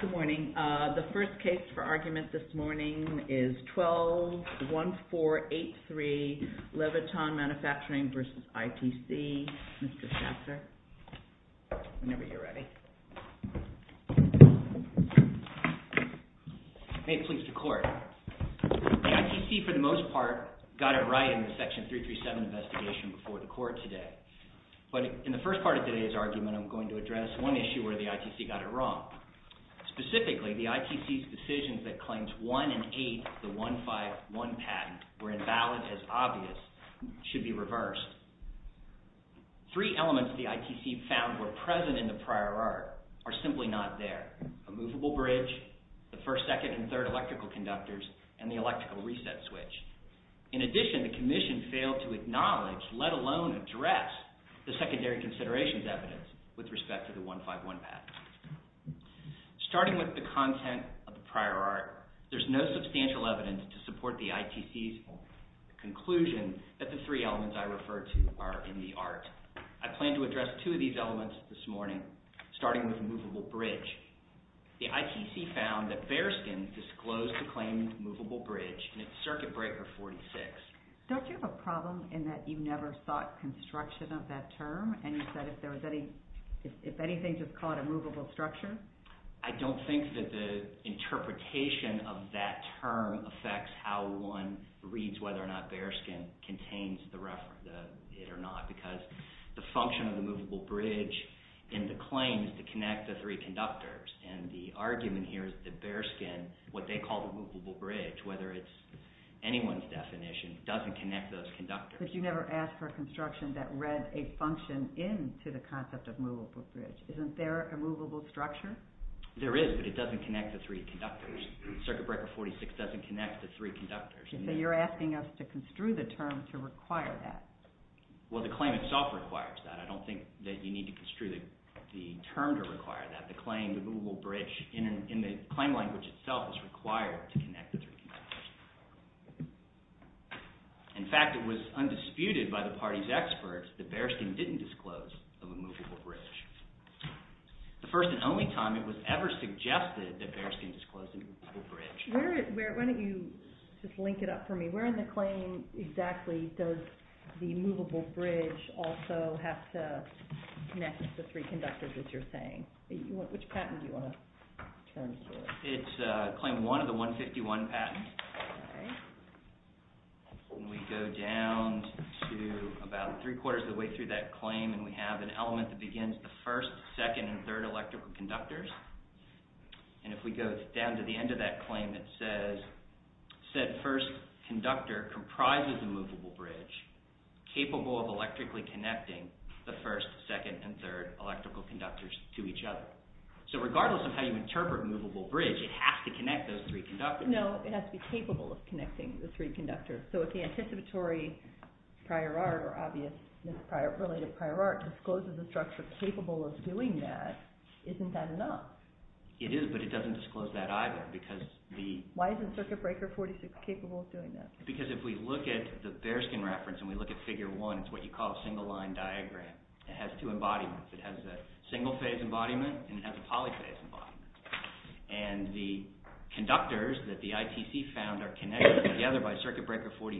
Good morning. The first case for argument this morning is 12-1483 LEVITON MANUFACTURING v. ITC. Mr. Schaffer, whenever you're ready. May it please the Court. The ITC, for the most part, got it right in the Section 337 investigation before the Court today. But in the first part of today's argument, I'm going to address one issue where the ITC got it wrong. Specifically, the ITC's decisions that claimed 1 in 8 of the 151 patent were invalid as obvious should be reversed. Three elements the ITC found were present in the prior art are simply not there. A movable bridge, the first, second, and third electrical conductors, and the electrical reset switch. In addition, the Commission failed to acknowledge, let alone address, the secondary considerations evidence with respect to the 151 patent. Starting with the content of the prior art, there's no substantial evidence to support the ITC's conclusion that the three elements I refer to are in the art. I plan to address two of these elements this morning, starting with movable bridge. The ITC found that Bereskin disclosed to claim movable bridge in its Circuit Breaker 46. Don't you have a problem in that you never sought construction of that term? And you said if anything, just call it a movable structure? I don't think that the interpretation of that term affects how one reads whether or not Bereskin contains it or not. Because the function of the movable bridge in the claim is to connect the three conductors. And the argument here is that Bereskin, what they call the movable bridge, whether it's anyone's definition, doesn't connect those conductors. But you never asked for a construction that read a function into the concept of movable bridge. Isn't there a movable structure? There is, but it doesn't connect the three conductors. Circuit Breaker 46 doesn't connect the three conductors. So you're asking us to construe the term to require that? Well, the claim itself requires that. I don't think that you need to construe the term to require that. The claim, the movable bridge in the claim language itself is required to connect the three conductors. In fact, it was undisputed by the party's experts that Bereskin didn't disclose a movable bridge. The first and only time it was ever suggested that Bereskin disclosed a movable bridge. Why don't you just link it up for me? Where in the claim exactly does the movable bridge also have to connect the three conductors, as you're saying? Which patent do you want to turn to? It's Claim 1 of the 151 patent. Okay. We go down to about three quarters of the way through that claim, and we have an element that begins the first, second, and third electrical conductors. And if we go down to the end of that claim, it says, said first conductor comprises a movable bridge capable of electrically connecting the first, second, and third electrical conductors to each other. So regardless of how you interpret movable bridge, it has to connect those three conductors. No, it has to be capable of connecting the three conductors. So if the anticipatory prior art or obvious misrelated prior art discloses a structure capable of doing that, isn't that enough? It is, but it doesn't disclose that either because the— Why isn't Circuit Breaker 46 capable of doing that? Because if we look at the Bearskin reference and we look at Figure 1, it's what you call a single line diagram. It has two embodiments. It has a single-phase embodiment and it has a polyphase embodiment. And the conductors that the ITC found are connected together by Circuit Breaker 46,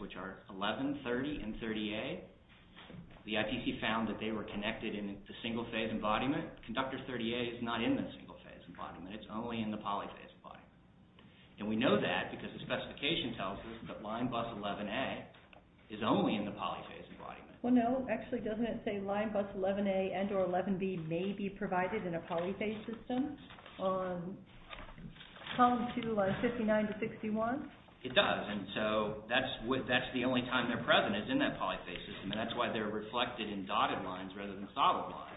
which are 11, 30, and 30A. The ITC found that they were connected in the single-phase embodiment. Conductor 30A is not in the single-phase embodiment. It's only in the polyphase embodiment. And we know that because the specification tells us that line bus 11A is only in the polyphase embodiment. Well, no. Actually, doesn't it say line bus 11A and or 11B may be provided in a polyphase system on column 2, lines 59 to 61? It does, and so that's the only time they're present is in that polyphase system, and that's why they're reflected in dotted lines rather than solid lines.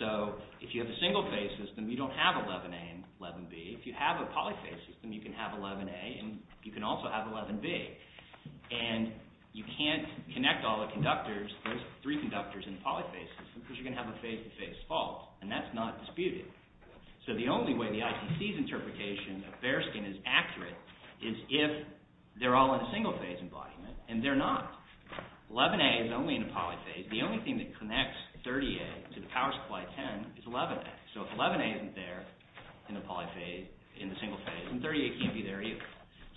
So if you have a single-phase system, you don't have 11A and 11B. If you have a polyphase system, you can have 11A and you can also have 11B, and you can't connect all the conductors. There's three conductors in a polyphase system because you're going to have a phase-to-phase fault, and that's not disputed. So the only way the ITC's interpretation of bearskin is accurate is if they're all in a single-phase embodiment, and they're not. 11A is only in a polyphase. The only thing that connects 30A to the power supply 10 is 11A. So if 11A isn't there in the polyphase, in the single-phase, then 30A can't be there either.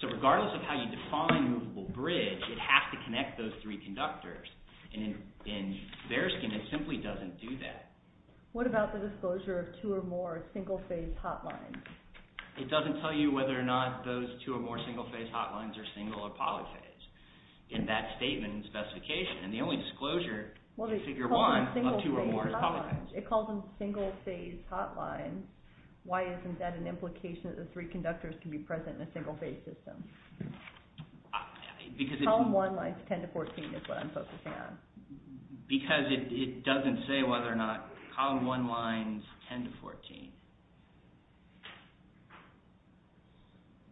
So regardless of how you define movable bridge, it has to connect those three conductors, and in bearskin, it simply doesn't do that. What about the disclosure of two or more single-phase hotlines? It doesn't tell you whether or not those two or more single-phase hotlines are single or polyphase in that statement and specification, and the only disclosure in Figure 1 of two or more is polyphase. It calls them single-phase hotlines. Why isn't that an implication that the three conductors can be present in a single-phase system? Column 1 lines 10 to 14 is what I'm focusing on. Because it doesn't say whether or not column 1 lines 10 to 14.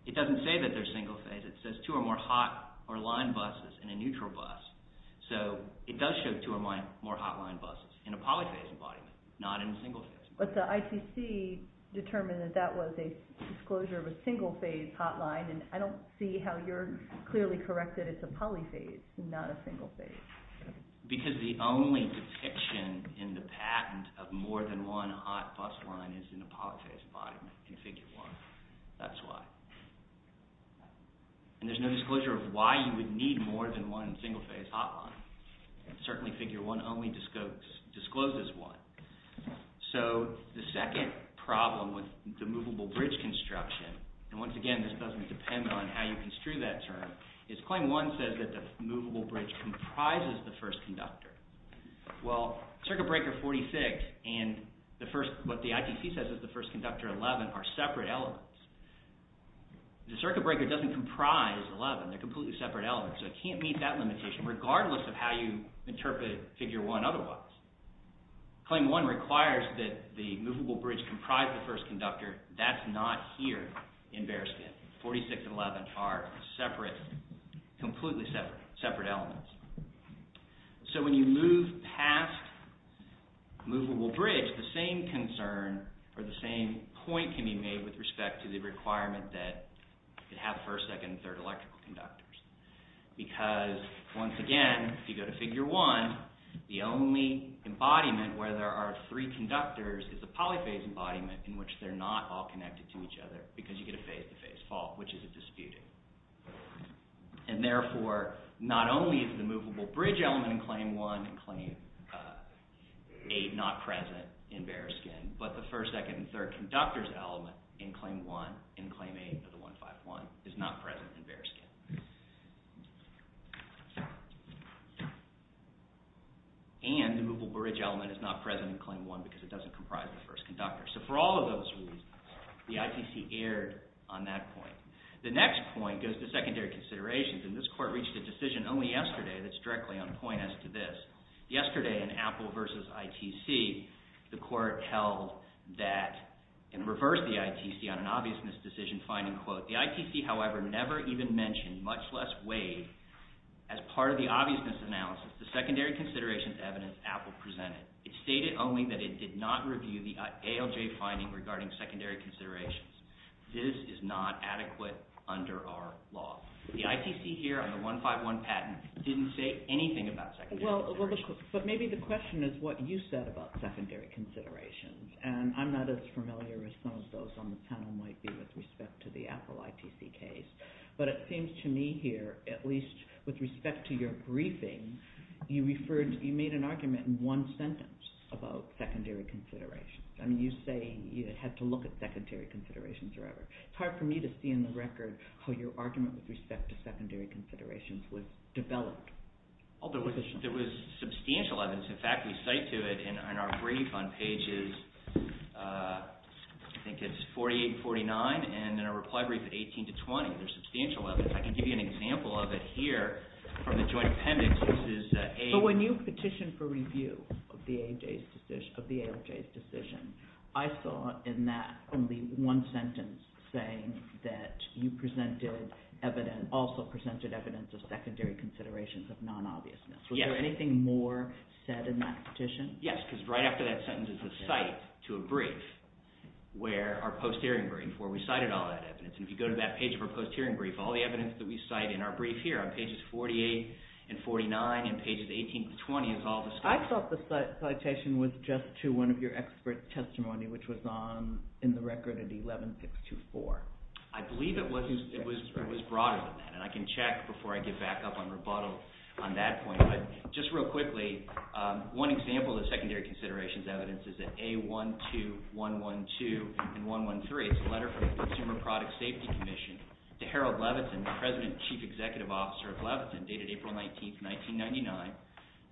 It doesn't say that they're single-phase. It says two or more hot or line buses in a neutral bus. So it does show two or more hotline buses in a polyphase embodiment, not in a single-phase. But the ITC determined that that was a disclosure of a single-phase hotline, and I don't see how you're clearly correct that it's a polyphase, not a single-phase. Because the only depiction in the patent of more than one hot bus line is in a polyphase embodiment in Figure 1. That's why. And there's no disclosure of why you would need more than one single-phase hotline. Certainly Figure 1 only discloses one. So the second problem with the movable bridge construction, and once again this doesn't depend on how you construe that term, is Claim 1 says that the movable bridge comprises the first conductor. Well, Circuit Breaker 46 and what the ITC says is the first conductor 11 are separate elements. The Circuit Breaker doesn't comprise 11. They're completely separate elements, so it can't meet that limitation regardless of how you interpret Figure 1 otherwise. Claim 1 requires that the movable bridge comprise the first conductor. That's not here in bare skin. 46 and 11 are separate, completely separate elements. So when you move past movable bridge, the same concern or the same point can be made with respect to the requirement that it have first, second, and third electrical conductors. Because, once again, if you go to Figure 1, the only embodiment where there are three conductors is a polyphase embodiment in which they're not all connected to each other because you get a phase-to-phase fault, which is a disputed. And therefore, not only is the movable bridge element in Claim 1 and Claim 8 not present in bare skin, but the first, second, and third conductors element in Claim 1 and Claim 8 of the 151 is not present in bare skin. And the movable bridge element is not present in Claim 1 because it doesn't comprise the first conductor. So for all of those reasons, the ITC erred on that point. The next point goes to secondary considerations, and this court reached a decision only yesterday that's directly on point as to this. Yesterday in Apple v. ITC, the court held that in reverse the ITC on an obvious misdecision finding, quote, The ITC, however, never even mentioned, much less waived, as part of the obvious misanalysis, the secondary considerations evidence Apple presented. It stated only that it did not review the ALJ finding regarding secondary considerations. This is not adequate under our law. The ITC here on the 151 patent didn't say anything about secondary considerations. But maybe the question is what you said about secondary considerations, and I'm not as familiar as some of those on the panel might be with respect to the Apple ITC case. But it seems to me here, at least with respect to your briefing, you made an argument in one sentence about secondary considerations. I mean, you say you had to look at secondary considerations forever. It's hard for me to see in the record how your argument with respect to secondary considerations was developed. There was substantial evidence. In fact, we cite to it in our brief on pages, I think it's 48 and 49, and in our reply brief at 18 to 20. There's substantial evidence. I can give you an example of it here from the joint appendix. So when you petitioned for review of the ALJ's decision, I saw in that only one sentence saying that you presented evidence – also presented evidence of secondary considerations of non-obviousness. Was there anything more said in that petition? Yes, because right after that sentence is a cite to a brief where our post-hearing brief where we cited all that evidence. And if you go to that page of our post-hearing brief, all the evidence that we cite in our brief here on pages 48 and 49 and pages 18 to 20 is all the stuff. I thought the citation was just to one of your expert testimony, which was in the record at 11624. I believe it was broader than that, and I can check before I get back up on rebuttal on that point. Just real quickly, one example of the secondary considerations evidence is at A12112 and 113. It's a letter from the Consumer Product Safety Commission to Harold Levitin, the president and chief executive officer of Levitin, dated April 19, 1999,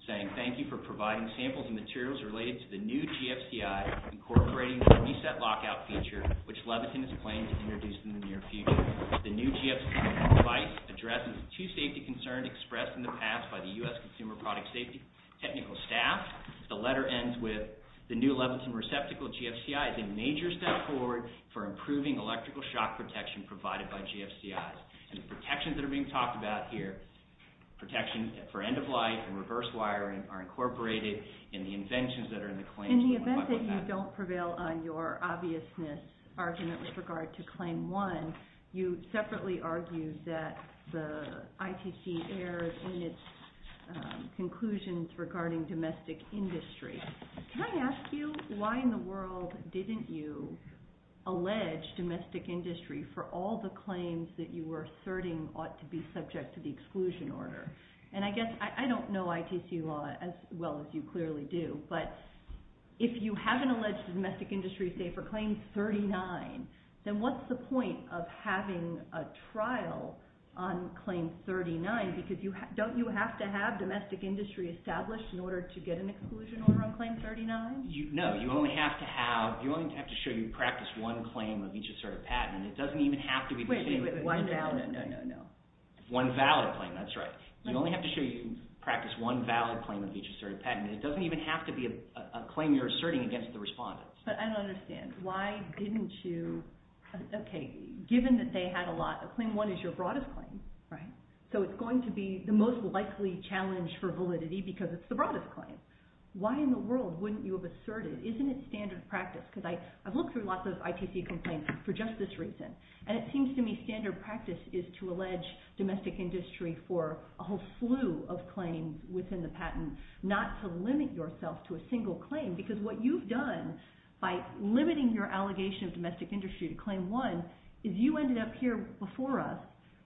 saying, Thank you for providing samples and materials related to the new GFCI incorporating the reset lockout feature, which Levitin is planning to introduce in the near future. The new GFCI device addresses two safety concerns expressed in the past by the U.S. Consumer Product Safety technical staff. The letter ends with the new Levitin receptacle GFCI is a major step forward for improving electrical shock protection provided by GFCIs. And the protections that are being talked about here, protections for end of life and reverse wiring, are incorporated in the inventions that are in the claims. In the event that you don't prevail on your obviousness argument with regard to Claim 1, you separately argued that the ITC erred in its conclusions regarding domestic industry. Can I ask you, why in the world didn't you allege domestic industry for all the claims that you were asserting ought to be subject to the exclusion order? And I guess, I don't know ITC law as well as you clearly do, but if you haven't alleged domestic industry, say, for Claim 39, then what's the point of having a trial on Claim 39? Because don't you have to have domestic industry established in order to get an exclusion order on Claim 39? No, you only have to have, you only have to show you practiced one claim of each asserted patent. It doesn't even have to be the same. Wait, wait, wait, one valid? No, no, no, no. One valid claim, that's right. You only have to show you practiced one valid claim of each asserted patent. It doesn't even have to be a claim you're asserting against the respondent. But I don't understand. Why didn't you, okay, given that they had a lot, Claim 1 is your broadest claim, right? So it's going to be the most likely challenge for validity because it's the broadest claim. Why in the world wouldn't you have asserted? Isn't it standard practice? Because I've looked through lots of ITC complaints for just this reason. And it seems to me standard practice is to allege domestic industry for a whole slew of claims within the patent, not to limit yourself to a single claim. Because what you've done by limiting your allegation of domestic industry to Claim 1 is you ended up here before us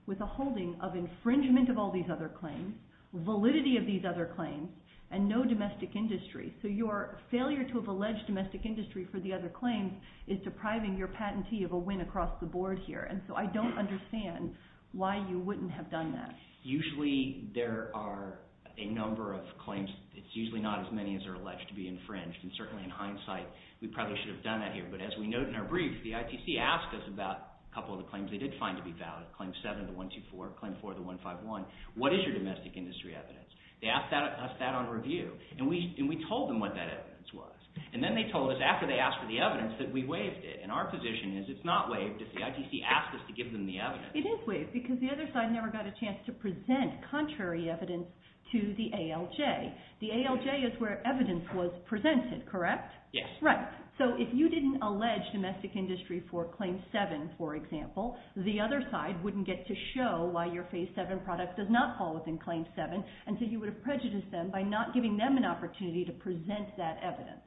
with a holding of infringement of all these other claims, validity of these other claims, and no domestic industry. So your failure to have alleged domestic industry for the other claims is depriving your patentee of a win across the board here. And so I don't understand why you wouldn't have done that. Usually there are a number of claims. It's usually not as many as are alleged to be infringed. And certainly in hindsight, we probably should have done that here. But as we note in our brief, the ITC asked us about a couple of the claims they did find to be valid, Claim 7 to 124, Claim 4 to 151, what is your domestic industry evidence? They asked us that on review. And we told them what that evidence was. And then they told us after they asked for the evidence that we waived it. And our position is it's not waived if the ITC asked us to give them the evidence. It is waived because the other side never got a chance to present contrary evidence to the ALJ. The ALJ is where evidence was presented, correct? Yes. Right. So if you didn't allege domestic industry for Claim 7, for example, the other side wouldn't get to show why your Phase 7 product does not fall within Claim 7, and so you would have prejudiced them by not giving them an opportunity to present that evidence.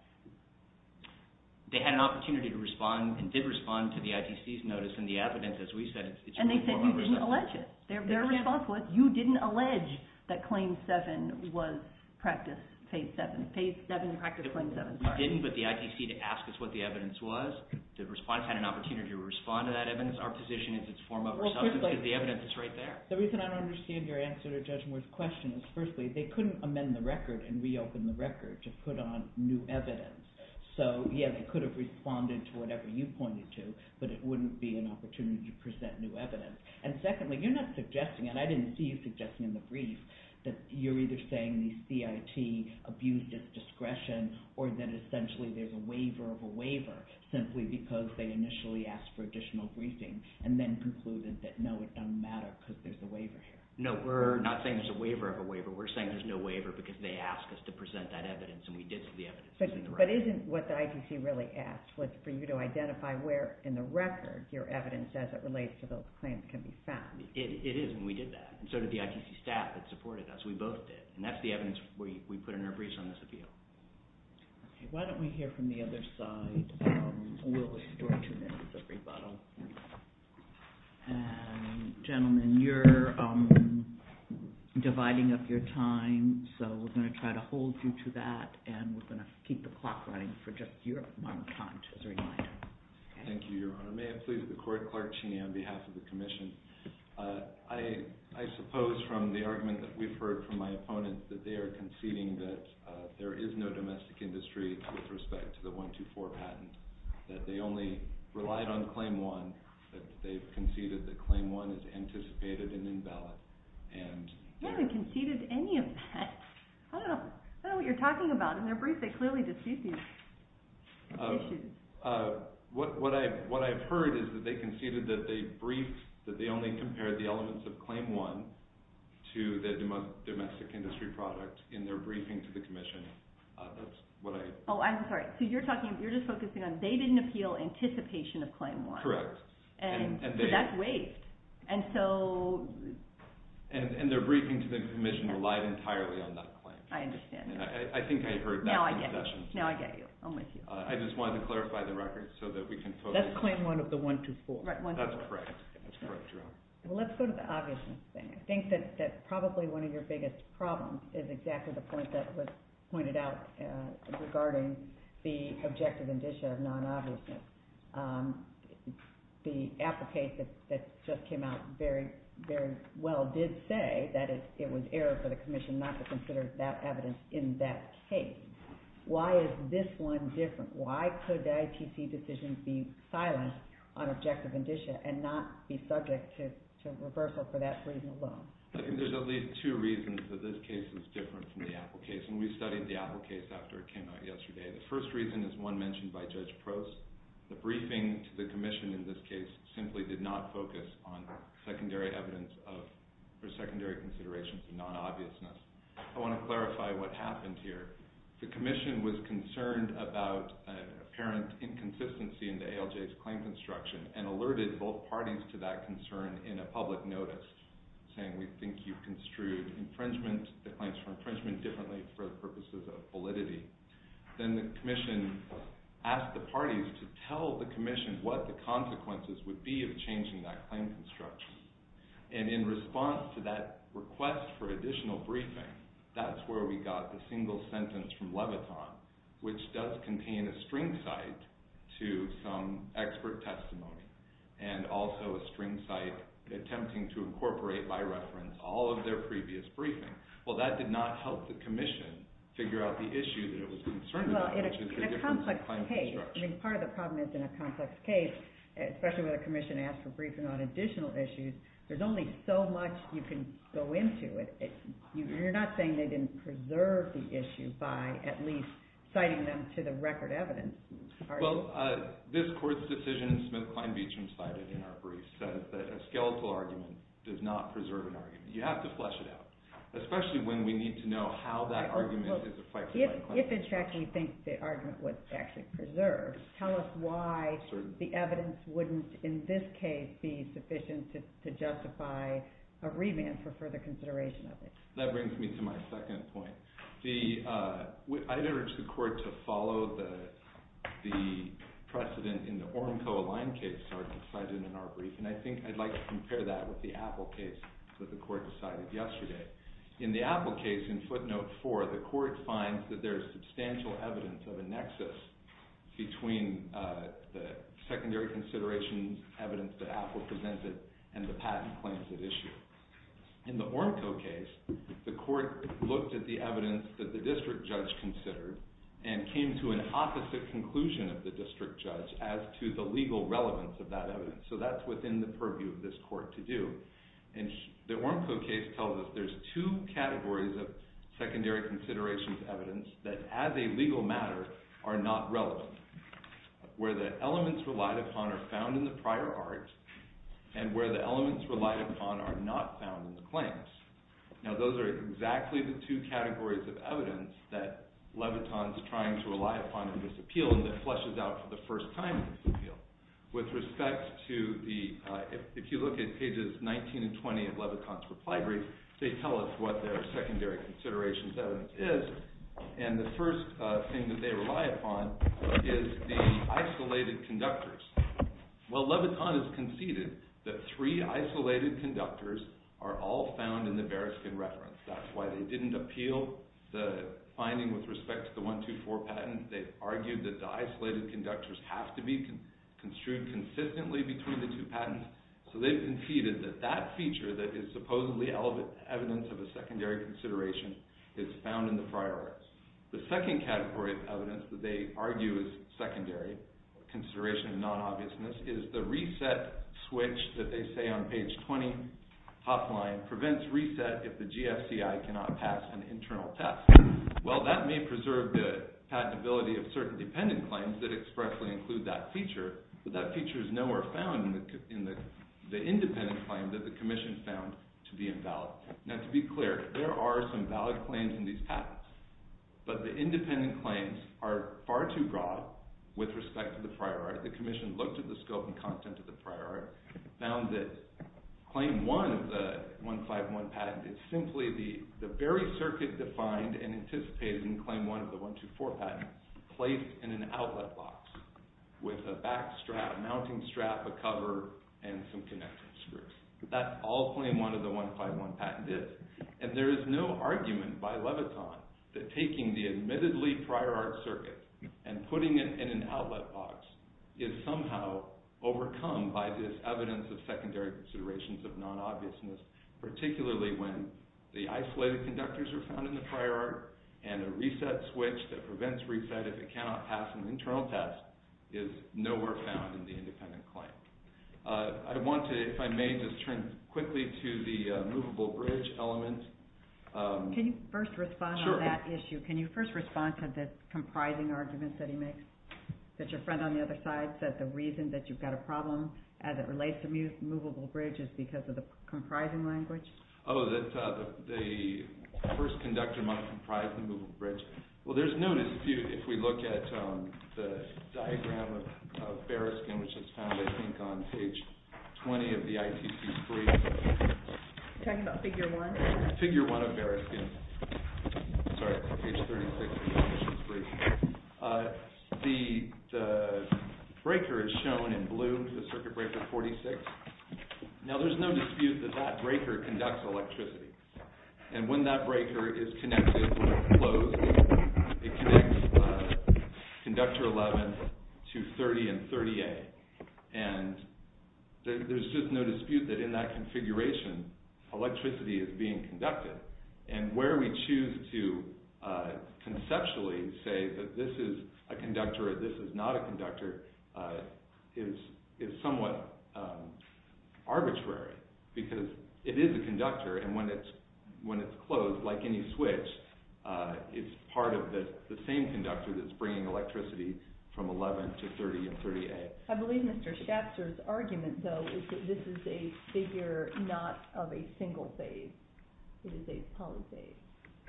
They had an opportunity to respond and did respond to the ITC's notice and the evidence. As we said, it's in the form of a presumption. And they said you didn't allege it. They're responsible. You didn't allege that Claim 7 was Practice Phase 7, Phase 7 Practice Claim 7. We didn't, but the ITC did ask us what the evidence was. The respondents had an opportunity to respond to that evidence. Our position is it's a form of presumption because the evidence is right there. The reason I don't understand your answer to Judge Moore's question is, firstly, they couldn't amend the record and reopen the record to put on new evidence. So, yeah, they could have responded to whatever you pointed to, but it wouldn't be an opportunity to present new evidence. And secondly, you're not suggesting, and I didn't see you suggesting in the brief, that you're either saying the CIT abused its discretion or that essentially there's a waiver of a waiver simply because they initially asked for additional briefing and then concluded that, no, it doesn't matter because there's a waiver here. No, we're not saying there's a waiver of a waiver. We're saying there's no waiver because they asked us to present that evidence, and we did so the evidence is in the record. But isn't what the ITC really asked was for you to identify where in the record your evidence as it relates to those claims can be found. It is, and we did that. And so did the ITC staff that supported us. We both did. And that's the evidence we put in our briefs on this appeal. Okay. Why don't we hear from the other side? We'll extort two minutes of rebuttal. And, gentlemen, you're dividing up your time, so we're going to try to hold you to that, and we're going to keep the clock running for just your amount of time as a reminder. Thank you, Your Honor. May I please have the court clerk, Cheney, on behalf of the commission. I suppose from the argument that we've heard from my opponents that they are conceding that there is no domestic industry with respect to the 124 patent, that they only relied on Claim 1, that they've conceded that Claim 1 is anticipated and invalid. You haven't conceded any of that. I don't know what you're talking about. In their brief, they clearly dispute these issues. What I've heard is that they conceded that they briefed that they only compared the elements of Claim 1 to the domestic industry product in their briefing to the commission. Oh, I'm sorry. So you're just focusing on they didn't appeal anticipation of Claim 1. Correct. So that's waived. And their briefing to the commission relied entirely on that claim. I understand. I think I heard that concession. Now I get you. I'm with you. I just wanted to clarify the record so that we can focus. That's Claim 1 of the 124. That's correct. That's correct, Your Honor. Well, let's go to the obviousness thing. I think that probably one of your biggest problems is exactly the point that was pointed out regarding the objective indicia of non-obviousness. The applicant that just came out very, very well did say that it was error for the commission not to consider that evidence in that case. Why is this one different? Why could the ITC decision be silenced on objective indicia and not be subject to reversal for that reason alone? There's at least two reasons that this case is different from the Apple case, and we studied the Apple case after it came out yesterday. The first reason is one mentioned by Judge Prost. The briefing to the commission in this case simply did not focus on secondary evidence of or secondary consideration for non-obviousness. I want to clarify what happened here. The commission was concerned about an apparent inconsistency in the ALJ's claim construction and alerted both parties to that concern in a public notice, saying we think you construed the claims for infringement differently for the purposes of validity. Then the commission asked the parties to tell the commission what the consequences would be of changing that claim construction. In response to that request for additional briefing, that's where we got the single sentence from Leviton, which does contain a string cite to some expert testimony and also a string cite attempting to incorporate by reference all of their previous briefing. Well, that did not help the commission figure out the issue that it was concerned about, which is the difference in claim construction. Part of the problem is in a complex case, especially when the commission asked for briefing on additional issues, there's only so much you can go into. You're not saying they didn't preserve the issue by at least citing them to the record evidence. Well, this court's decision, Smith-Klein-Beachum cited in our brief, says that a skeletal argument does not preserve an argument. You have to flesh it out, especially when we need to know how that argument is affected by the claim. If, in fact, we think the argument was actually preserved, tell us why the evidence wouldn't, in this case, be sufficient to justify a remand for further consideration of it. That brings me to my second point. I'd urge the court to follow the precedent in the Ormco-Align case, Sargent cited in our brief, and I think I'd like to compare that with the Apple case that the court decided yesterday. In the Apple case, in footnote 4, the court finds that there's substantial evidence of a nexus between the secondary consideration evidence that Apple presented and the patent claims it issued. In the Ormco case, the court looked at the evidence that the district judge considered and came to an opposite conclusion of the district judge as to the legal relevance of that evidence. So that's within the purview of this court to do. And the Ormco case tells us there's two categories of secondary considerations evidence that, as a legal matter, are not relevant, where the elements relied upon are found in the prior art and where the elements relied upon are not found in the claims. Now, those are exactly the two categories of evidence that Leviton's trying to rely upon in this appeal and that fleshes out for the first time in this appeal. If you look at pages 19 and 20 of Leviton's reply brief, they tell us what their secondary considerations evidence is, and the first thing that they rely upon is the isolated conductors. Well, Leviton has conceded that three isolated conductors are all found in the Bereskin reference. That's why they didn't appeal the finding with respect to the 124 patent. They've argued that the isolated conductors have to be construed consistently between the two patents, so they've conceded that that feature that is supposedly evidence of a secondary consideration is found in the prior arts. The second category of evidence that they argue is secondary, consideration of non-obviousness, is the reset switch that they say on page 20, top line, prevents reset if the GFCI cannot pass an internal test. Well, that may preserve the patentability of certain dependent claims that expressly include that feature, but that feature is nowhere found in the independent claim that the Commission found to be invalid. Now, to be clear, there are some valid claims in these patents, but the independent claims are far too broad with respect to the prior art. The Commission looked at the scope and content of the prior art, found that Claim 1 of the 151 patent is simply the very circuit defined and anticipated in Claim 1 of the 124 patent, placed in an outlet box with a back strap, mounting strap, a cover, and some connecting screws. That's all Claim 1 of the 151 patent is, and there is no argument by Leviton that taking the admittedly prior art circuit and putting it in an outlet box is somehow overcome by this evidence of secondary considerations of non-obviousness, particularly when the isolated conductors are found in the prior art, and a reset switch that prevents reset if it cannot pass an internal test is nowhere found in the independent claim. I want to, if I may, just turn quickly to the movable bridge element. Can you first respond to that issue? Can you first respond to the comprising arguments that he makes, that your friend on the other side said the reason that you've got a problem as it relates to movable bridge is because of the comprising language? Oh, that the first conductor must comprise the movable bridge. Well, there's no dispute if we look at the diagram of Bereskin, which is found, I think, on page 20 of the ITC brief. Are you talking about figure 1? Figure 1 of Bereskin. Sorry, page 36 of the ITC brief. The breaker is shown in blue, the circuit breaker 46. Now, there's no dispute that that breaker conducts electricity, and when that breaker is connected, when it's closed, it connects conductor 11 to 30 and 30A, and there's just no dispute that in that configuration, electricity is being conducted, and where we choose to conceptually say that this is a conductor or this is not a conductor is somewhat arbitrary, because it is a conductor, and when it's closed, like any switch, it's part of the same conductor that's bringing electricity from 11 to 30 and 30A. I believe Mr. Schatzer's argument, though, is that this is a figure not of a single phase. It is a polyphase.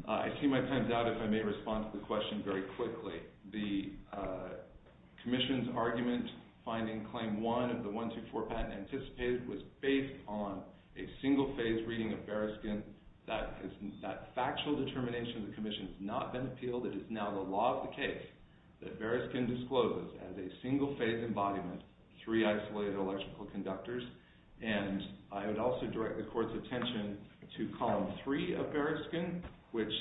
I see my time's out, if I may respond to the question very quickly. The Commission's argument finding claim 1 of the 124 patent anticipated was based on a single-phase reading of Bereskin. That factual determination of the Commission has not been appealed. It is now the law of the case that Bereskin discloses as a single-phase embodiment three isolated electrical conductors, and I would also direct the Court's attention to column 3 of Bereskin, which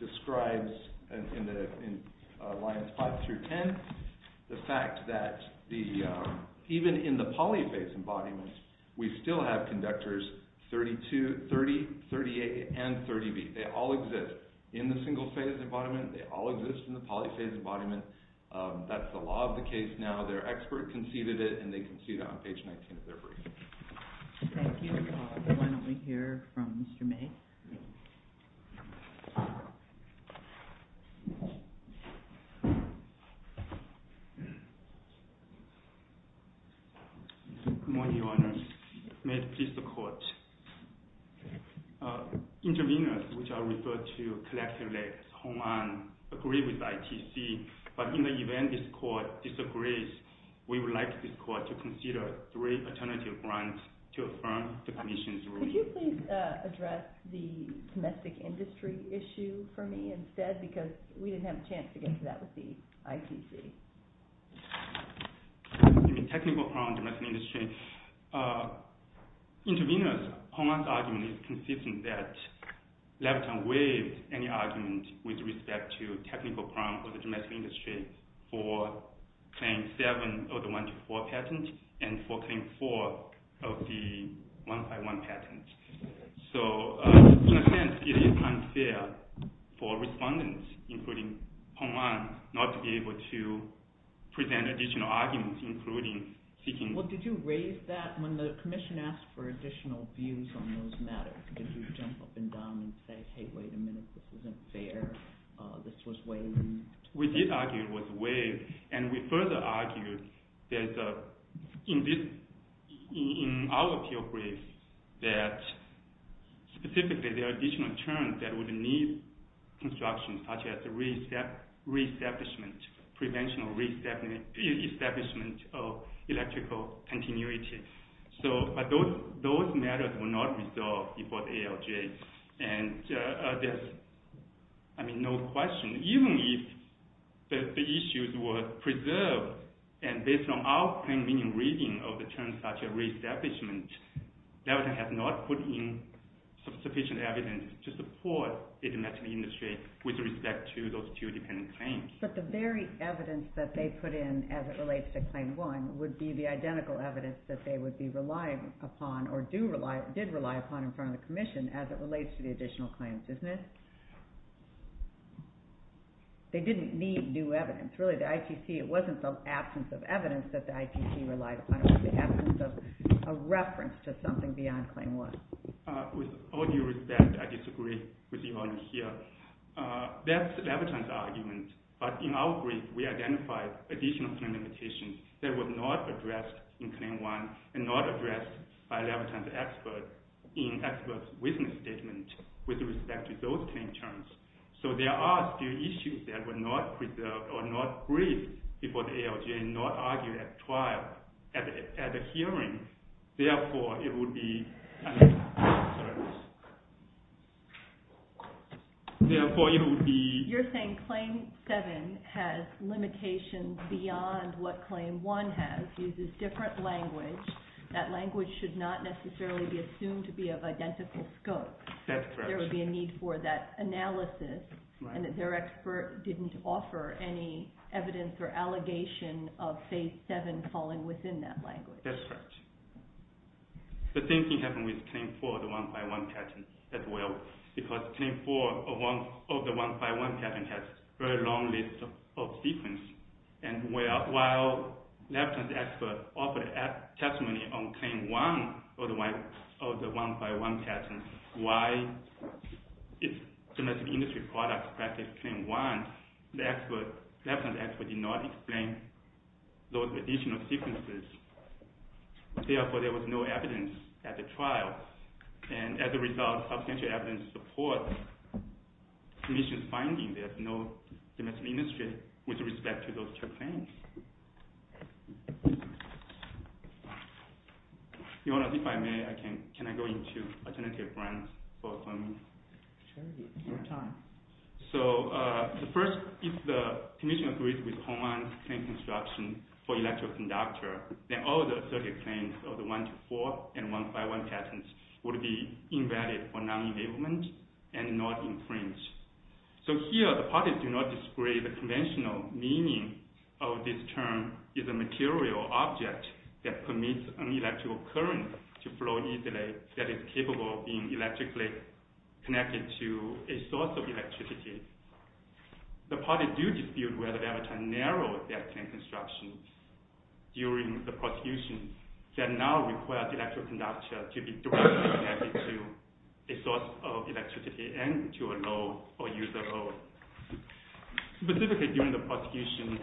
describes, in lines 5 through 10, the fact that even in the polyphase embodiment, we still have conductors 30, 30A, and 30B. They all exist in the single-phase embodiment. They all exist in the polyphase embodiment. That's the law of the case now. Their expert conceded it, and they concede that on page 19 of their briefing. Thank you. Why don't we hear from Mr. May? Good morning, Your Honors. May it please the Court. Intervenors, which are referred to collectively as HONAN, agree with ITC, but in the event this Court disagrees, we would like this Court to consider three alternative grounds to affirm the Commission's ruling. Could you please address the domestic industry issue for me instead, because we didn't have a chance to get to that with the ITC. Technical crime, domestic industry. Intervenors, HONAN's argument is consistent that Labrador waived any argument with respect to technical crime for the domestic industry for Claim 7 of the 1-4 patent and for Claim 4 of the 1-5-1 patent. So, in a sense, it is unfair for respondents, including HONAN, not to be able to present additional arguments, including seeking… Well, did you raise that when the Commission asked for additional views on those matters? Did you jump up and down and say, hey, wait a minute, this isn't fair, this was waived? We did argue it was waived, and we further argued that in our appeal brief that specifically there are additional terms that would need construction, such as the reestablishment, prevention of reestablishment of electrical continuity. But those matters were not resolved before the ALJ, and there's no question. Even if the issues were preserved, and based on our plain meaning reading of the terms such as reestablishment, Labrador has not put in sufficient evidence to support the domestic industry with respect to those two dependent claims. But the very evidence that they put in as it relates to Claim 1 would be the identical evidence that they would be relying upon, or did rely upon in front of the Commission as it relates to the additional claims, isn't it? They didn't need new evidence. Really, the IPC, it wasn't the absence of evidence that the IPC relied upon, it was the absence of a reference to something beyond Claim 1. With all due respect, I disagree with you all here. That's Labrador's argument. But in our brief, we identified additional claim limitations that were not addressed in Claim 1, and not addressed by Labrador's expert in expert's witness statement with respect to those claim terms. So there are still issues that were not preserved or not briefed before the ALJ, not argued at trial, at a hearing. Therefore, it would be... Therefore, it would be... You're saying Claim 7 has limitations beyond what Claim 1 has, uses different language, that language should not necessarily be assumed to be of identical scope. That's correct. There would be a need for that analysis, and that their expert didn't offer any evidence or allegation of Phase 7 falling within that language. That's correct. The same thing happened with Claim 4, the 1-by-1 patent, as well. Because Claim 4 of the 1-by-1 patent has a very long list of sequence, and while Labrador's expert offered a testimony on Claim 1 of the 1-by-1 patent, why, if domestic industry products practice Claim 1, Labrador's expert did not explain those additional sequences. Therefore, there was no evidence at the trial. And as a result, substantial evidence supports the commission's finding there's no domestic industry with respect to those two claims. Your Honor, if I may, can I go into alternative grounds for affirming? Sure, your time. So, first, if the commission agrees with Hohmann's claim construction for electroconductor, then all the circuit claims of the 1-to-4 and 1-by-1 patents would be invalid for non-enablement and not infringed. So here, the parties do not display the conventional meaning of this term, is a material object that permits an electrical current to flow easily that is capable of being electrically connected to a source of electricity. The parties do dispute whether Labrador narrowed their claim construction during the prosecution that now requires electroconductors to be directly connected to a source of electricity and to a low or user load. Specifically, during the prosecution,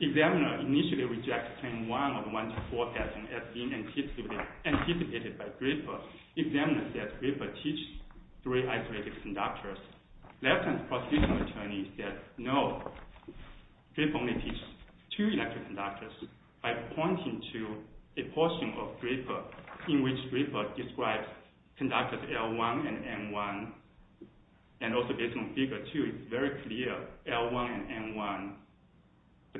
the examiner initially rejected Claim 1 of the 1-to-4 patent as being anticipated by Draper. The examiner said Draper teaches three isolated conductors. Labrador's prosecution attorney said, no, Draper only teaches two electric conductors. I point to a portion of Draper in which Draper describes conductors L1 and M1. And also based on Figure 2, it's very clear L1 and M1. The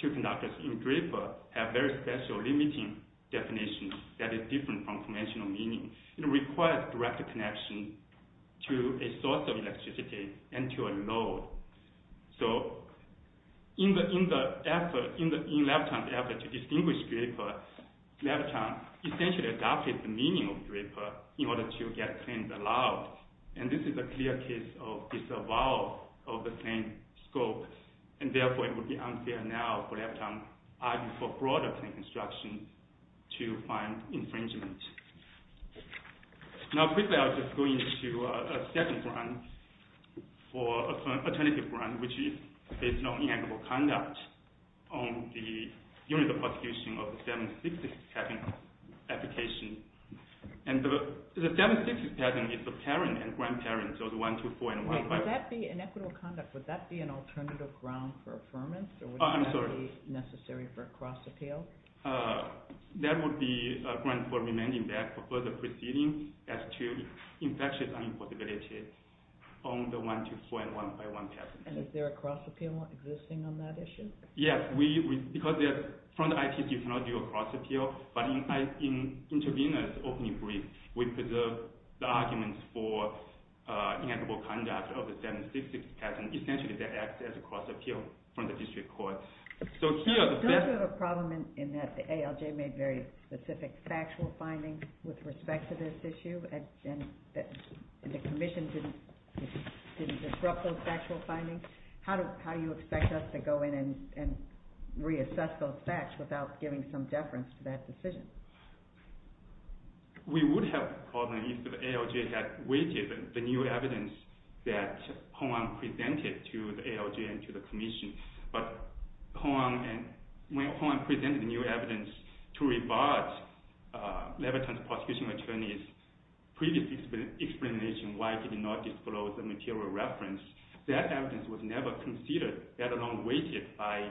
two conductors in Draper have very special limiting definitions that is different from conventional meaning. It requires direct connection to a source of electricity and to a load. So in Labrador's effort to distinguish Draper, Labrador essentially adopted the meaning of Draper in order to get claims allowed. And this is a clear case of disavowal of the same scope. And therefore, it would be unfair now for Labrador to argue for broader claim construction to find infringement. Now quickly, I'll just go into a second ground for alternative ground, which is based on inequitable conduct on the unit of prosecution of the 766 patent application. And the 766 patent is the parent and grandparents of the 1-to-4 and 1-to-5. Inequitable conduct, would that be an alternative ground for affirmance? I'm sorry. Or would that be necessary for a cross-appeal? That would be a ground for remanding that for further proceedings as to infectious unimportability on the 1-to-4 and 1-to-5 patent. And is there a cross-appeal existing on that issue? Yes, because they're from the IT technology or cross-appeal. But in intervener's opening brief, we preserve the arguments for inequitable conduct of the 766 patent. Essentially, that acts as a cross-appeal from the district court. So here are the facts. Does it have a problem in that the ALJ made very specific factual findings with respect to this issue, and the commission didn't disrupt those factual findings? How do you expect us to go in and reassess those facts without giving some deference to that decision? We would have the problem if the ALJ had waited the new evidence that Hoang presented to the ALJ and to the commission. But when Hoang presented the new evidence to rebut Leviton's prosecution attorneys' previous explanation why he did not disclose the material reference, that evidence was never considered, let alone waited by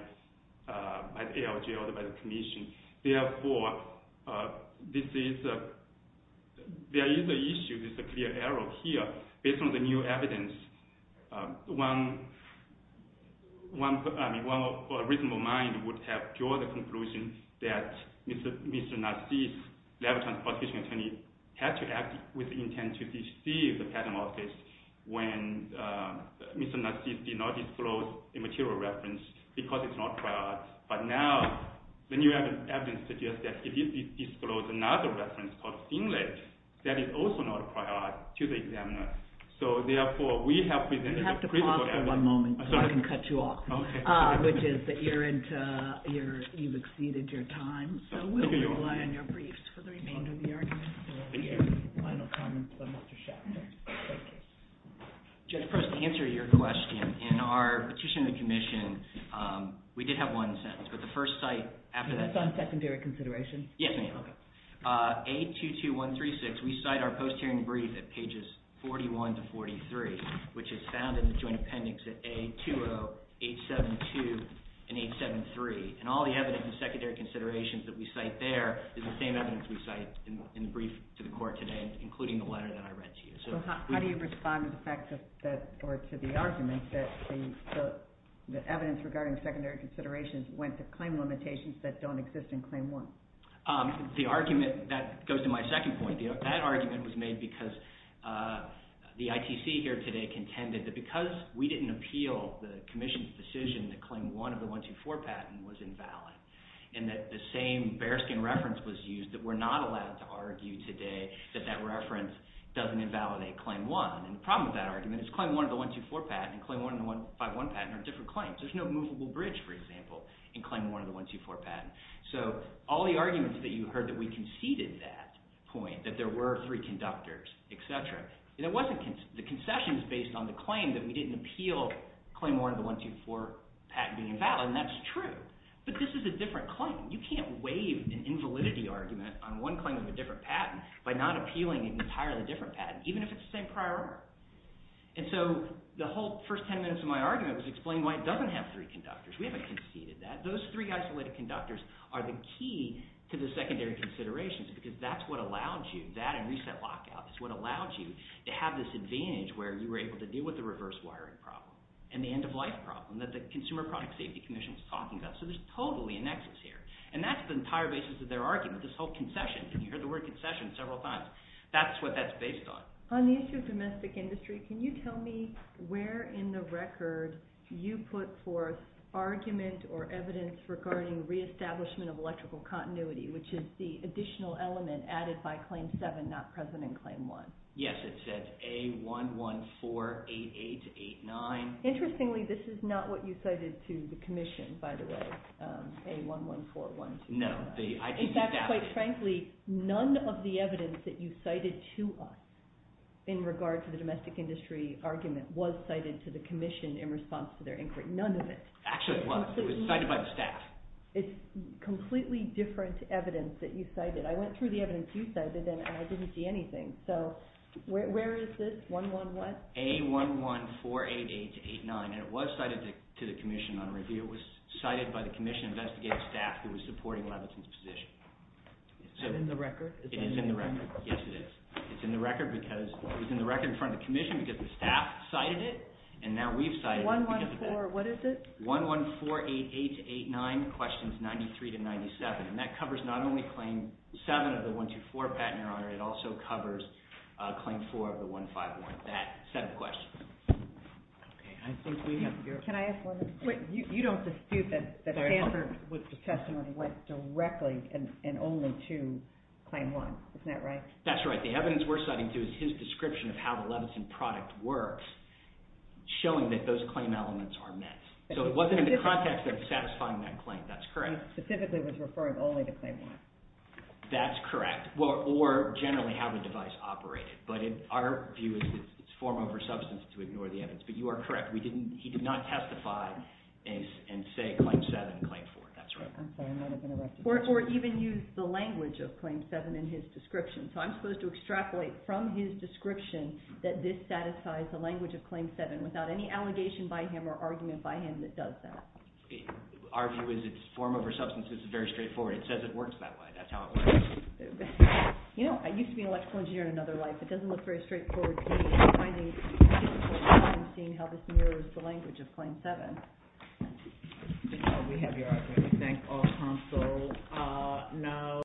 the ALJ or by the commission. Therefore, there is an issue, there's a clear error here. Based on the new evidence, one reasonable mind would have drawn the conclusion that Mr. Nassif, Leviton's prosecution attorney, had to act with the intent to deceive the patent office when Mr. Nassif did not disclose a material reference because it's not prior. But now, the new evidence suggests that if he disclosed another reference called Finlay, that is also not prior to the examiner. So therefore, we have presented a critical evidence. You have to pause for one moment so I can cut you off. Okay. Which is that you've exceeded your time, so we'll rely on your briefs for the remainder of the argument. Thank you. Final comments by Mr. Schaffner. Judge Preston, to answer your question, in our petition to the commission, we did have one sentence, but the first cite after that… That's on secondary consideration? Yes, ma'am. Okay. A22136, we cite our post-hearing brief at pages 41 to 43, which is found in the joint appendix at A20872 and 873. And all the evidence of secondary considerations that we cite there is the same evidence we cite in the brief to the court today, including the letter that I read to you. So how do you respond to the argument that the evidence regarding secondary considerations went to claim limitations that don't exist in Claim 1? The argument – that goes to my second point. That argument was made because the ITC here today contended that because we didn't appeal the commission's decision that Claim 1 of the 124 patent was invalid, and that the same bearskin reference was used, that we're not allowed to argue today that that reference doesn't invalidate Claim 1. And the problem with that argument is Claim 1 of the 124 patent and Claim 1 of the 151 patent are different claims. There's no movable bridge, for example, in Claim 1 of the 124 patent. So all the arguments that you heard that we conceded that point, that there were three conductors, etc., and it wasn't – the concession is based on the claim that we didn't appeal Claim 1 of the 124 patent being invalid, and that's true. But this is a different claim. You can't waive an invalidity argument on one claim of a different patent by not appealing an entirely different patent, even if it's the same prior order. And so the whole first ten minutes of my argument was explain why it doesn't have three conductors. We haven't conceded that. Those three isolated conductors are the key to the secondary considerations because that's what allowed you – that and reset lockout is what allowed you to have this advantage where you were able to deal with the reverse wiring problem and the end-of-life problem that the Consumer Product Safety Commission is talking about. So there's totally a nexus here, and that's the entire basis of their argument, this whole concession. And you heard the word concession several times. That's what that's based on. On the issue of domestic industry, can you tell me where in the record you put forth argument or evidence regarding reestablishment of electrical continuity, which is the additional element added by Claim 7, not present in Claim 1? Yes, it says A1148889. Interestingly, this is not what you cited to the commission, by the way, A114127. No. In fact, quite frankly, none of the evidence that you cited to us in regard to the domestic industry argument was cited to the commission in response to their inquiry. None of it. Actually, it was. It was cited by the staff. It's completely different evidence that you cited. I went through the evidence you cited, and I didn't see anything. So where is this, 111? A1148889, and it was cited to the commission on review. It was cited by the commission investigative staff who was supporting Levinson's position. Is that in the record? It is in the record. Yes, it is. It's in the record because it was in the record in front of the commission because the staff cited it, and now we've cited it because of that. 114, what is it? 1148889, questions 93 to 97, and that covers not only Claim 7 of the 124 patent, Your Honor, it also covers Claim 4 of the 151, that set of questions. Can I ask one more question? You don't dispute that Stanford's testimony went directly and only to Claim 1. Isn't that right? That's right. The evidence we're citing to is his description of how the Levinson product works, showing that those claim elements are met. So it wasn't in the context of satisfying that claim. That's correct. It specifically was referring only to Claim 1. That's correct, or generally how the device operated. But our view is it's form over substance to ignore the evidence. But you are correct. He did not testify and say Claim 7, Claim 4. That's right. Or even use the language of Claim 7 in his description. So I'm supposed to extrapolate from his description that this satisfies the language of Claim 7 without any allegation by him or argument by him that does that. Our view is it's form over substance. It's very straightforward. It says it works that way. That's how it works. You know, I used to be an electrical engineer in another life. It doesn't look very straightforward to me. I'm finding it difficult now in seeing how this mirrors the language of Claim 7. We have your opinion. Thank all counsel. No.